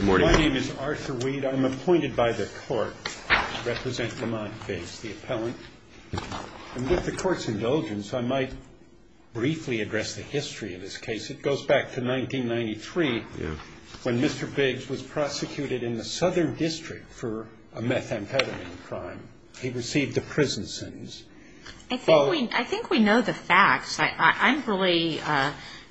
My name is Arthur Weed. I'm appointed by the court to represent Lamont Biggs, the appellant. With the court's indulgence, I might briefly address the history of this case. It goes back to 1993 when Mr. Biggs was prosecuted in the Southern District for a methamphetamine crime. He received the prison sentence. I think we know the facts.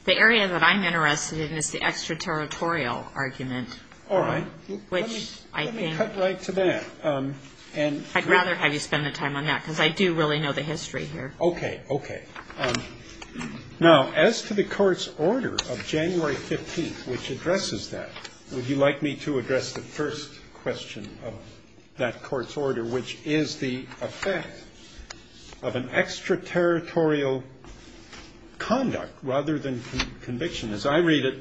The area that I'm interested in is the extraterritorial argument. All right. Let me cut right to that. I'd rather have you spend the time on that, because I do really know the history here. Okay. Okay. Now, as to the court's order of January 15th, which addresses that, would you like me to address the first question of that court's order, which is the effect of an extraterritorial conduct rather than conviction? As I read it,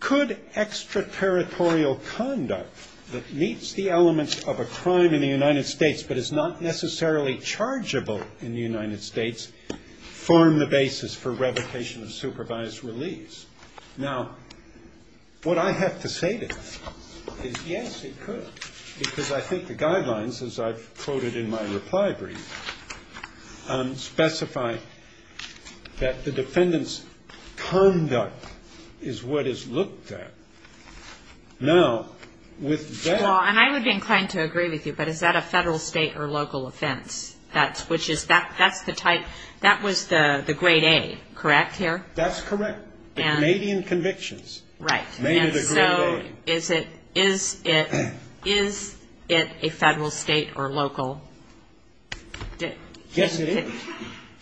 could extraterritorial conduct that meets the elements of a crime in the United States but is not necessarily chargeable in the United States form the basis for revocation of supervised release? Now, what I have to say to that is, yes, it could, because I think the guidelines, as I've quoted in my reply brief, specify that the defendant's conduct is what is looked at. Now, with that ‑‑ Well, and I would be inclined to agree with you, but is that a federal, state, or local offense? That's the type ‑‑ that was the grade A, correct, here? That's correct. The Canadian convictions made it a grade A. Right. And so is it a federal, state, or local? Yes, it is.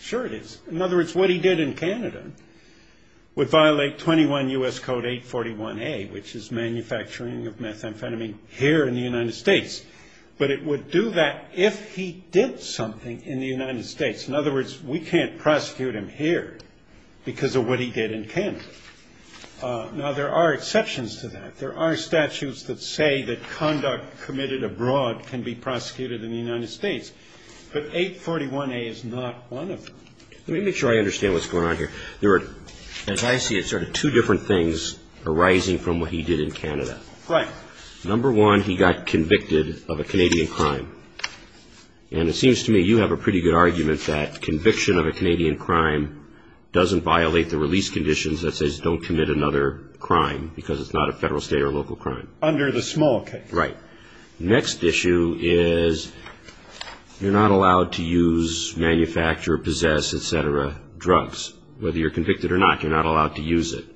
Sure it is. In other words, what he did in Canada would violate 21 U.S. Code 841A, which is manufacturing of methamphetamine here in the United States, but it would do that if he did something in the United States. In other words, we can't prosecute him here because of what he did in Canada. Now, there are exceptions to that. There are statutes that say that conduct committed abroad can be prosecuted in the United States, but 841A is not one of them. Let me make sure I understand what's going on here. There are, as I see it, sort of two different things arising from what he did in Canada. Right. Number one, he got convicted of a Canadian crime, and it seems to me you have a pretty good argument that conviction of a Canadian crime doesn't violate the release conditions that says don't commit another crime because it's not a federal, state, or local crime. Under the small case. Right. Next issue is you're not allowed to use, manufacture, possess, et cetera, drugs. Whether you're convicted or not, you're not allowed to use it.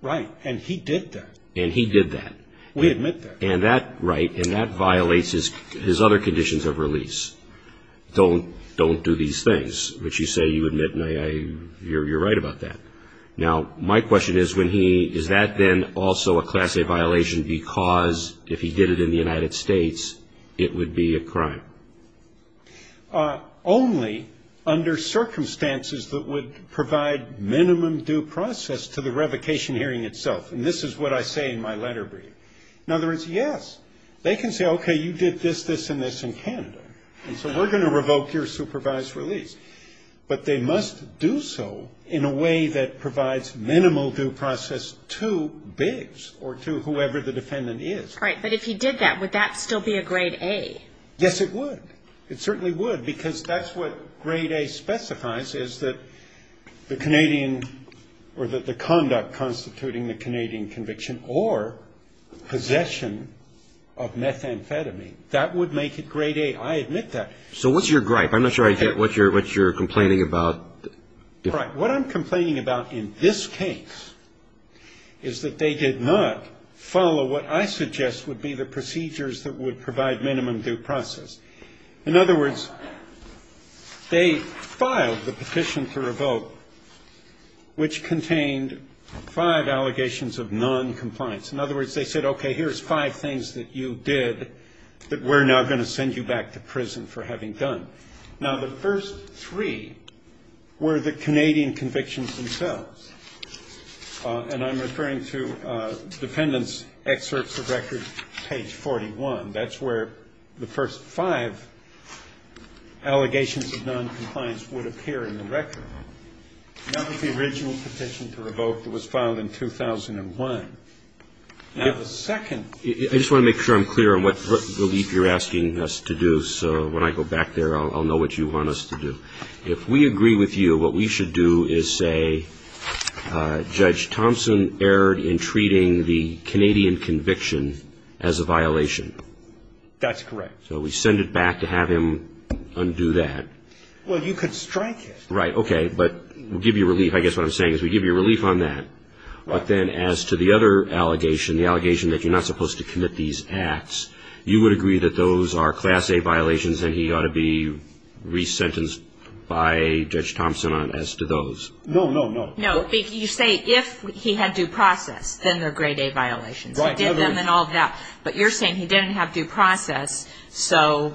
Right. And he did that. And he did that. We admit that. And that violates his other conditions of release. Don't do these things, which you say you admit, and you're right about that. Now, my question is, is that then also a Class A violation because if he did it in the United States, it would be a crime? Only under circumstances that would provide minimum due process to the revocation hearing itself. And this is what I say in my letter brief. In other words, yes, they can say, okay, you did this, this, and this in Canada, and so we're going to revoke your supervised release. But they must do so in a way that provides minimal due process to Biggs or to whoever the defendant is. Right. But if he did that, would that still be a Grade A? Yes, it would. It certainly would because that's what Grade A specifies is that the Canadian or that the conduct constituting the Canadian conviction or possession of methamphetamine, that would make it Grade A. I admit that. So what's your gripe? I'm not sure I get what you're complaining about. Right. What I'm complaining about in this case is that they did not follow what I suggest would be the procedures that would provide minimum due process. In other words, they filed the petition to revoke, which contained five allegations of noncompliance. In other words, they said, okay, here's five things that you did that we're now going to send you back to prison for having done. Now, the first three were the Canadian convictions themselves. And I'm referring to the defendant's excerpts of record, page 41. That's where the first five allegations of noncompliance would appear in the record. Not with the original petition to revoke that was filed in 2001. Now, the second ---- I just want to make sure I'm clear on what relief you're asking us to do. So when I go back there, I'll know what you want us to do. If we agree with you, what we should do is say, Judge Thompson erred in treating the Canadian conviction as a violation. That's correct. So we send it back to have him undo that. Well, you could strike it. Right. Okay. But we'll give you relief. I guess what I'm saying is we give you relief on that. But then as to the other allegation, the allegation that you're not supposed to commit these acts, you would agree that those are Class A violations and he ought to be resentenced by Judge Thompson as to those. No, no, no. No. You say if he had due process, then they're Grade A violations. He did them and all of that. But you're saying he didn't have due process, so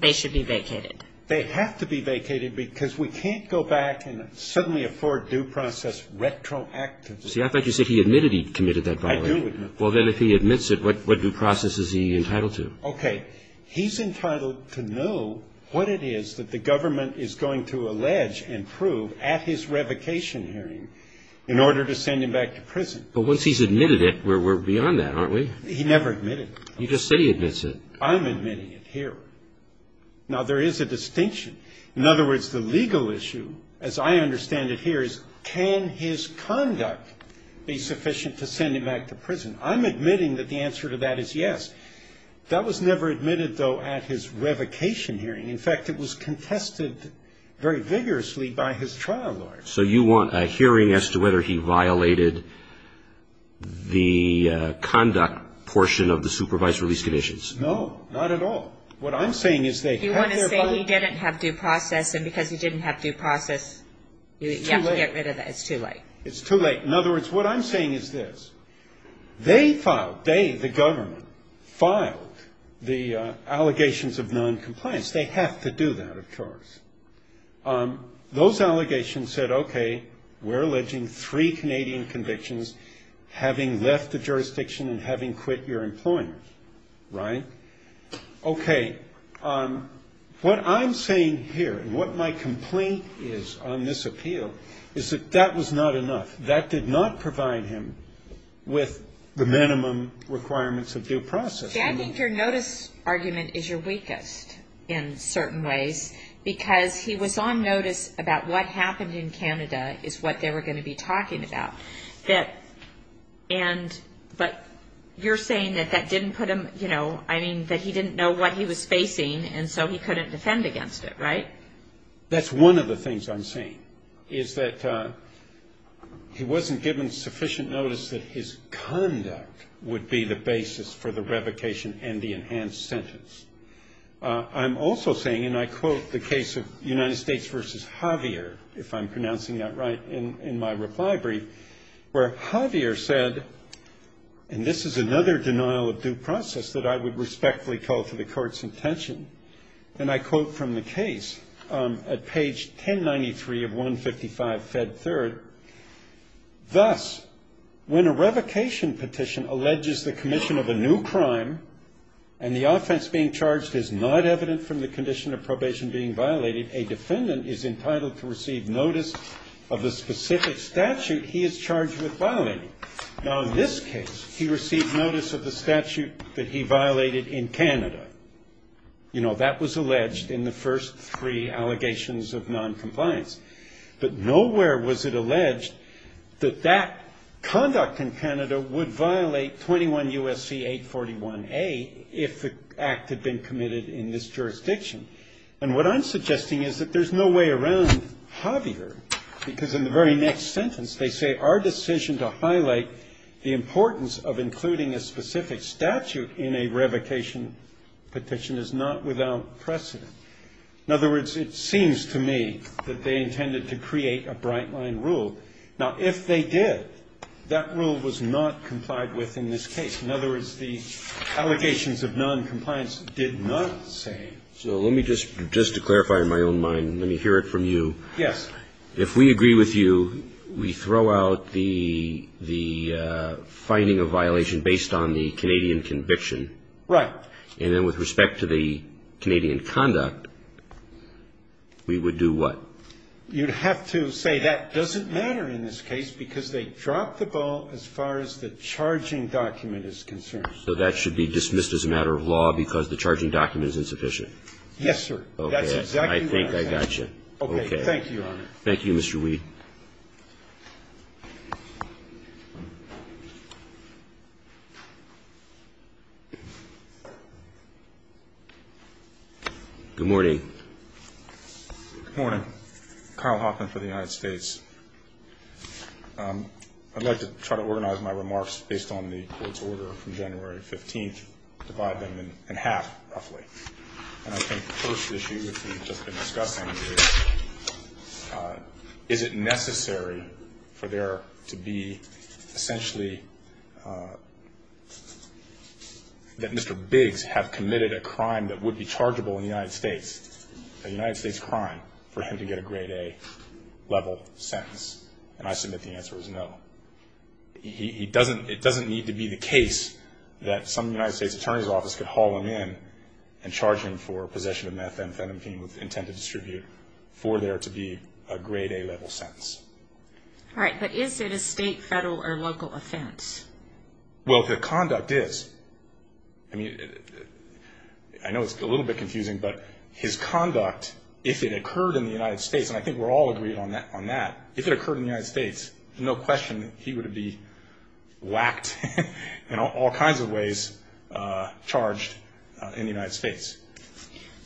they should be vacated. They have to be vacated because we can't go back and suddenly afford due process retroactively. See, I thought you said he admitted he committed that violation. I do admit that. Well, then if he admits it, what due process is he entitled to? Okay. He's entitled to know what it is that the government is going to allege and prove at his revocation hearing in order to send him back to prison. But once he's admitted it, we're beyond that, aren't we? He never admitted it. You just say he admits it. I'm admitting it here. Now, there is a distinction. In other words, the legal issue, as I understand it here, is can his conduct be sufficient to send him back to prison? I'm admitting that the answer to that is yes. That was never admitted, though, at his revocation hearing. In fact, it was contested very vigorously by his trial lawyer. So you want a hearing as to whether he violated the conduct portion of the supervised release conditions? No, not at all. What I'm saying is they have their violation. You want to say he didn't have due process, and because he didn't have due process, you have to get rid of that. It's too late. It's too late. In other words, what I'm saying is this. They filed, they, the government, filed the allegations of noncompliance. They have to do that, of course. Those allegations said, okay, we're alleging three Canadian convictions, having left the jurisdiction and having quit your employment. Right? Okay, what I'm saying here and what my complaint is on this appeal is that that was not enough. That did not provide him with the minimum requirements of due process. I think your notice argument is your weakest, in certain ways, because he was on notice about what happened in Canada is what they were going to be talking about. But you're saying that that didn't put him, you know, I mean, that he didn't know what he was facing, and so he couldn't defend against it, right? That's one of the things I'm saying is that he wasn't given sufficient notice that his conduct would be the basis for the revocation and the enhanced sentence. I'm also saying, and I quote the case of United States v. Javier, if I'm pronouncing that right, in my reply brief, where Javier said, and this is another denial of due process that I would respectfully call to the court's intention, and I quote from the case at page 1093 of 155 Fed Third, thus, when a revocation petition alleges the commission of a new crime and the offense being charged is not evident from the condition of probation being violated, a defendant is entitled to receive notice of the specific statute he is charged with violating. Now, in this case, he received notice of the statute that he violated in Canada. You know, that was alleged in the first three allegations of noncompliance. But nowhere was it alleged that that conduct in Canada would violate 21 U.S.C. 841A if the act had been committed in this jurisdiction. And what I'm suggesting is that there's no way around Javier, because in the very next sentence, they say our decision to highlight the importance of including a specific statute in a revocation petition is not without precedent. In other words, it seems to me that they intended to create a bright-line rule. Now, if they did, that rule was not complied with in this case. In other words, the allegations of noncompliance did not say. So let me just, just to clarify in my own mind, let me hear it from you. Yes. If we agree with you, we throw out the finding of violation based on the Canadian conviction. Right. And then with respect to the Canadian conduct, we would do what? You'd have to say that doesn't matter in this case because they dropped the ball as far as the charging document is concerned. So that should be dismissed as a matter of law because the charging document is insufficient? Yes, sir. Okay. That's exactly what I said. Okay. Thank you, Your Honor. Thank you, Mr. Weed. Good morning. Good morning. Kyle Hoffman for the United States. I'd like to try to organize my remarks based on the court's order from January 15th, divide them in half, roughly. And I think the first issue which we've just been discussing is, is it necessary for there to be essentially that Mr. Biggs have committed a crime that would be chargeable in the United States, a United States crime, for him to get a grade A level sentence? And I submit the answer is no. It doesn't need to be the case that some United States attorney's office could haul him in and charge him for possession of methamphetamine with intent to distribute for there to be a grade A level sentence. All right. But is it a state, federal, or local offense? Well, the conduct is. I mean, I know it's a little bit confusing, but his conduct, if it occurred in the United States, and I think we're all agreed on that, if it occurred in the United States, there's no question that he would be whacked in all kinds of ways, charged in the United States.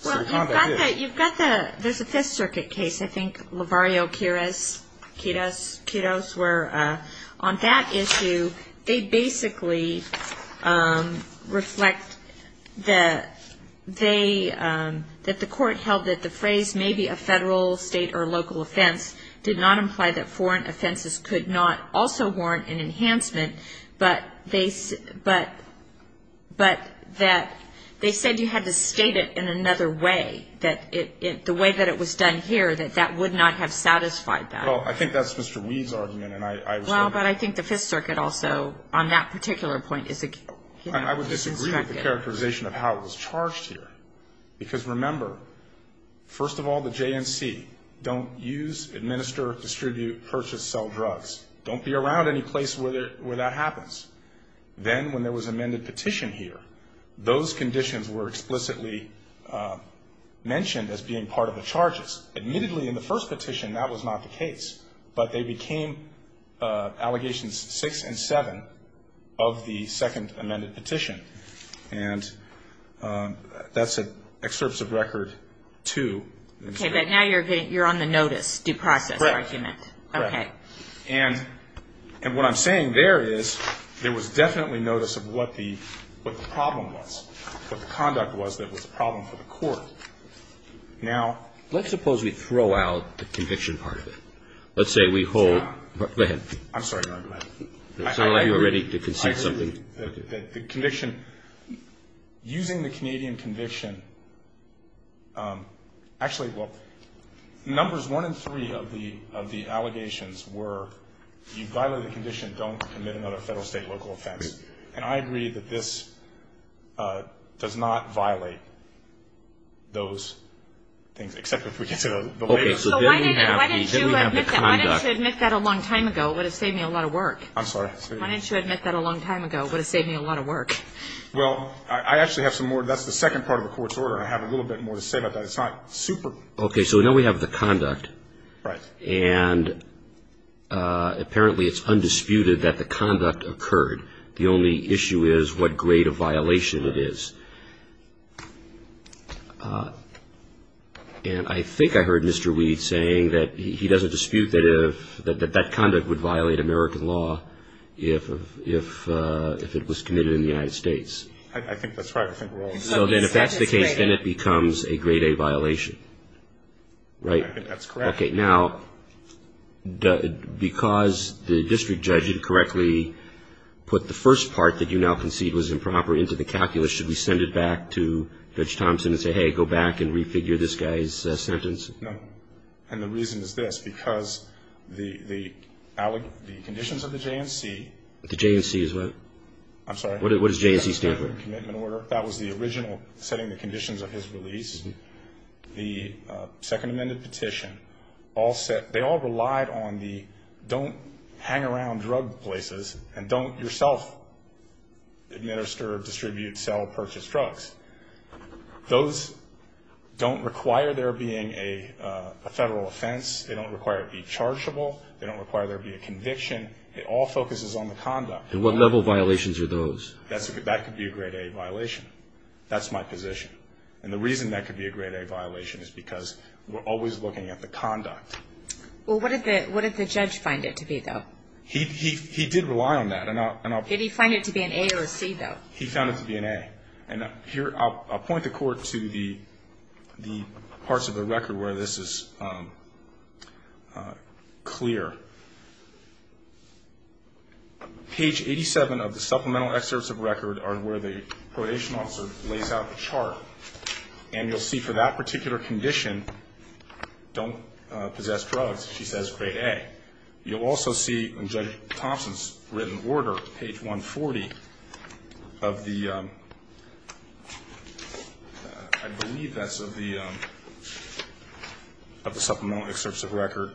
So the conduct is. Well, you've got the, there's a Fifth Circuit case, I think, Lavario-Quiroz, where on that issue they basically reflect that they, that the court held that the phrase may be a federal, state, or local offense did not imply that foreign offenses could not also warrant an enhancement, but that they said you had to state it in another way, that the way that it was done here, that that would not have satisfied that. Well, I think that's Mr. Weed's argument, and I was going to. Well, but I think the Fifth Circuit also, on that particular point, is. I would disagree with the characterization of how it was charged here, because remember, first of all, the JNC don't use, administer, distribute, purchase, sell drugs. Don't be around any place where that happens. Then when there was amended petition here, those conditions were explicitly mentioned as being part of the charges. Admittedly, in the first petition, that was not the case, but they became allegations six and seven of the second amended petition, and that's an excerpt of record two. Okay, but now you're on the notice, due process argument. Right. Okay. And what I'm saying there is there was definitely notice of what the problem was, what the conduct was that was a problem for the court. Now. Let's suppose we throw out the conviction part of it. Let's say we hold. Go ahead. I'm sorry. Go ahead. It sounded like you were ready to concede something. The conviction, using the Canadian conviction. Actually, well, numbers one and three of the allegations were, you violated the condition, don't commit another federal, state, local offense. And I agree that this does not violate those things, except if we consider the way. Why didn't you admit that a long time ago? It would have saved me a lot of work. I'm sorry. Why didn't you admit that a long time ago? It would have saved me a lot of work. Well, I actually have some more. That's the second part of the court's order. I have a little bit more to say about that. It's not super. Okay. So now we have the conduct. Right. And apparently it's undisputed that the conduct occurred. The only issue is what grade of violation it is. And I think I heard Mr. Weed saying that he doesn't dispute that that conduct would violate American law if it was committed in the United States. I think that's right. So then if that's the case, then it becomes a grade A violation, right? That's correct. Okay. Now, because the district judge incorrectly put the first part that you now concede was improper into the calculus, should we send it back to Judge Thompson and say, hey, go back and refigure this guy's sentence? No. And the reason is this. Because the conditions of the J&C. The J&C is what? I'm sorry. What does J&C stand for? Commitment order. That was the original setting the conditions of his release. The second amended petition, they all relied on the don't hang around drug places and don't yourself administer, distribute, sell, purchase drugs. Those don't require there being a federal offense. They don't require it be chargeable. They don't require there be a conviction. It all focuses on the conduct. And what level of violations are those? That could be a grade A violation. That's my position. And the reason that could be a grade A violation is because we're always looking at the conduct. Well, what did the judge find it to be, though? He did rely on that. Did he find it to be an A or a C, though? He found it to be an A. And here I'll point the court to the parts of the record where this is clear. Page 87 of the supplemental excerpts of record are where the probation officer lays out the chart. And you'll see for that particular condition, don't possess drugs, she says grade A. You'll also see in Judge Thompson's written order, page 140 of the, I believe that's of the supplemental excerpts of record,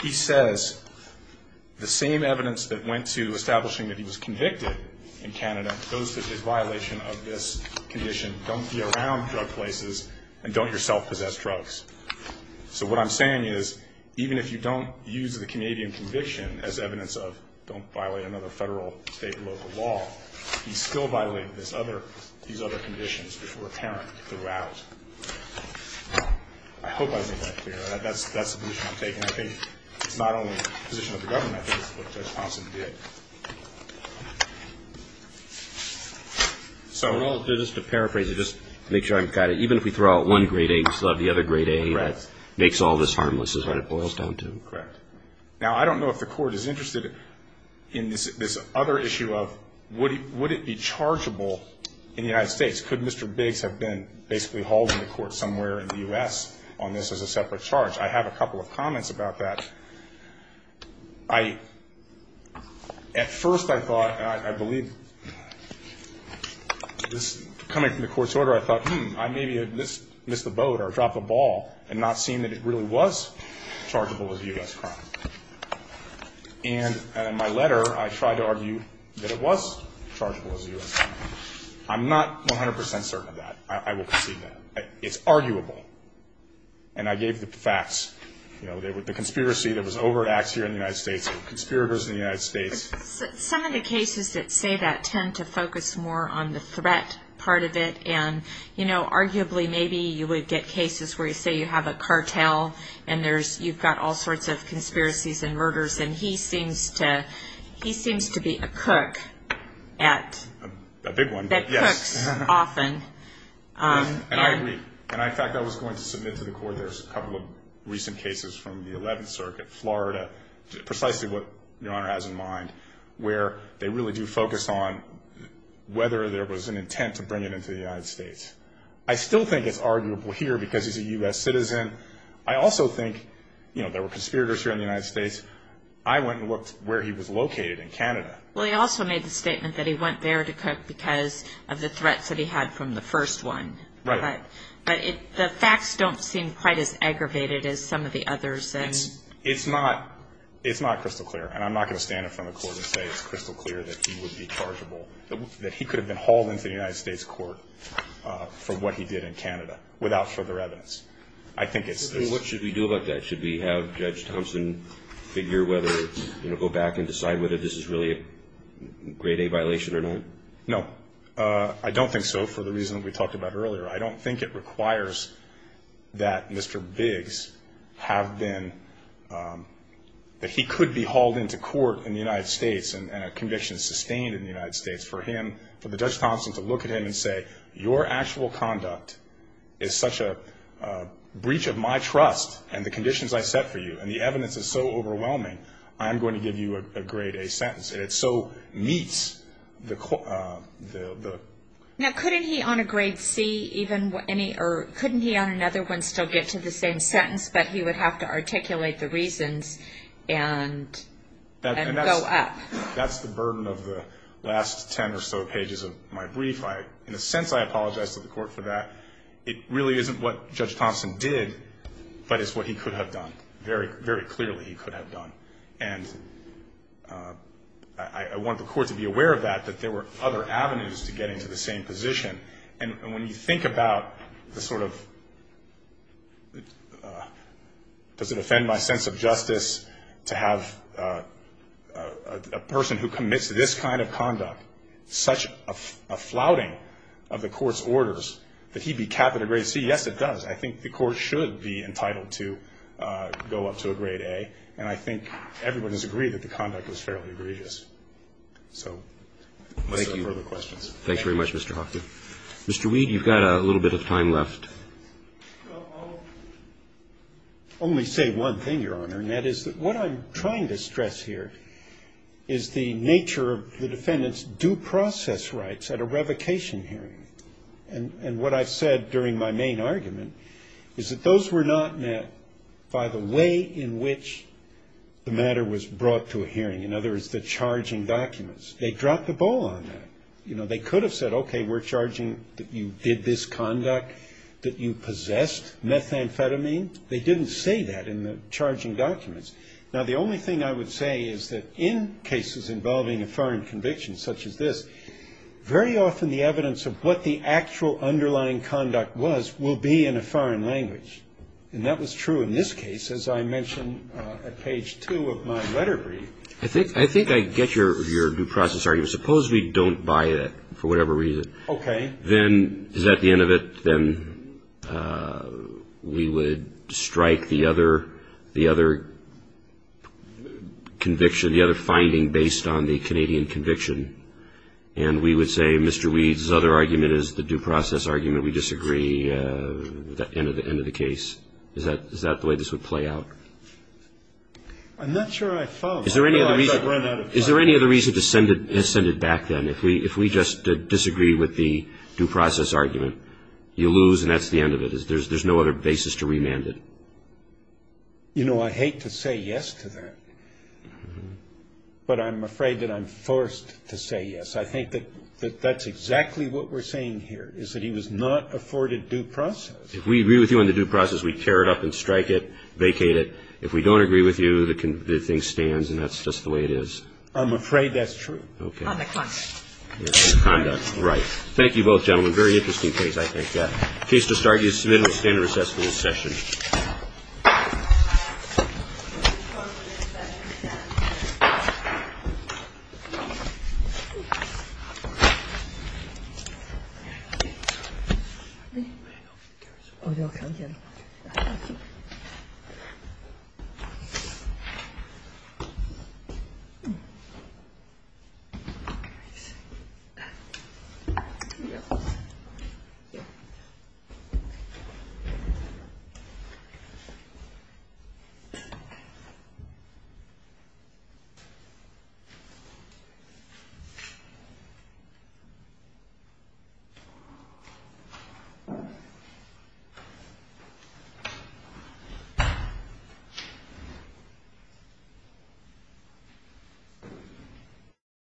he says the same evidence that went to establishing that he was convicted in Canada goes to the violation of this condition, don't be around drug places, and don't yourself possess drugs. So what I'm saying is even if you don't use the Canadian conviction as evidence of don't violate another federal, state, or local law, you still violate these other conditions which were apparent throughout. I hope I made that clear. That's the position I'm taking. I think it's not only the position of the government, I think it's what Judge Thompson did. So just to paraphrase it, just to make sure I got it, even if we throw out one grade A, we still have the other grade A that makes all this harmless is what it boils down to. Correct. Now, I don't know if the court is interested in this other issue of would it be chargeable in the United States? Could Mr. Biggs have been basically holding the court somewhere in the U.S. on this as a separate charge? I have a couple of comments about that. At first I thought, and I believe this coming from the court's order, I thought, hmm, I maybe missed the boat or dropped the ball in not seeing that it really was chargeable as a U.S. crime. And in my letter I tried to argue that it was chargeable as a U.S. crime. I'm not 100 percent certain of that. I will concede that. It's arguable. And I gave the facts. The conspiracy that was over at Axior in the United States, the conspirators in the United States. Some of the cases that say that tend to focus more on the threat part of it. And, you know, arguably maybe you would get cases where you say you have a cartel and you've got all sorts of conspiracies and murders, and he seems to be a cook that cooks often. And I agree. And, in fact, I was going to submit to the court there's a couple of recent cases from the 11th Circuit, Florida, precisely what Your Honor has in mind, where they really do focus on whether there was an intent to bring it into the United States. I still think it's arguable here because he's a U.S. citizen. I also think, you know, there were conspirators here in the United States. I went and looked where he was located in Canada. Well, he also made the statement that he went there to cook because of the threats that he had from the first one. Right. But the facts don't seem quite as aggravated as some of the others. It's not crystal clear. And I'm not going to stand in front of the court and say it's crystal clear that he would be chargeable, that he could have been hauled into the United States court for what he did in Canada without further evidence. I think it's this. What should we do about that? Should we have Judge Thompson figure whether, you know, go back and decide whether this is really a Grade A violation or not? No. I don't think so for the reason we talked about earlier. I don't think it requires that Mr. Biggs have been, that he could be hauled into court in the United States and a conviction sustained in the United States for him, for Judge Thompson to look at him and say, your actual conduct is such a breach of my trust and the conditions I set for you, and the evidence is so overwhelming, I am going to give you a Grade A sentence. And it so meets the... Now, couldn't he on a Grade C even, or couldn't he on another one still get to the same sentence, but he would have to articulate the reasons and go up? That's the burden of the last ten or so pages of my brief. In a sense, I apologize to the Court for that. It really isn't what Judge Thompson did, but it's what he could have done, very clearly he could have done. And I want the Court to be aware of that, that there were other avenues to get into the same position. And when you think about the sort of, does it offend my sense of justice to have a person who commits this kind of conduct, such a flouting of the Court's orders, that he be capped at a Grade C? Yes, it does. I think the Court should be entitled to go up to a Grade A. And I think everyone has agreed that the conduct was fairly egregious. So no further questions. Thank you. Thank you very much, Mr. Hoffman. Mr. Weed, you've got a little bit of time left. Well, I'll only say one thing, Your Honor, and that is that what I'm trying to stress here is the nature of the defendant's due process rights at a revocation hearing. And what I've said during my main argument is that those were not met by the way in which the matter was brought to a hearing, in other words, the charging documents. They dropped the ball on that. You know, they could have said, okay, we're charging that you did this conduct, that you possessed methamphetamine. They didn't say that in the charging documents. Now, the only thing I would say is that in cases involving a foreign conviction such as this, very often the evidence of what the actual underlying conduct was will be in a foreign language. And that was true in this case, as I mentioned at page two of my letter brief. I think I get your due process argument. Suppose we don't buy it for whatever reason. Okay. Then is that the end of it? If that's the case, then we would strike the other conviction, the other finding based on the Canadian conviction, and we would say Mr. Weed's other argument is the due process argument. We disagree with that end of the case. Is that the way this would play out? I'm not sure I follow. Is there any other reason to send it back then? If we just disagree with the due process argument, you lose and that's the end of it. There's no other basis to remand it. You know, I hate to say yes to that, but I'm afraid that I'm forced to say yes. I think that that's exactly what we're saying here, is that he was not afforded due process. If we agree with you on the due process, we tear it up and strike it, vacate it. If we don't agree with you, the thing stands and that's just the way it is. I'm afraid that's true. Conduct. Conduct, right. Thank you both, gentlemen. Very interesting case, I think. Case to start. You submit and we'll stand and recess for this session. Thank you.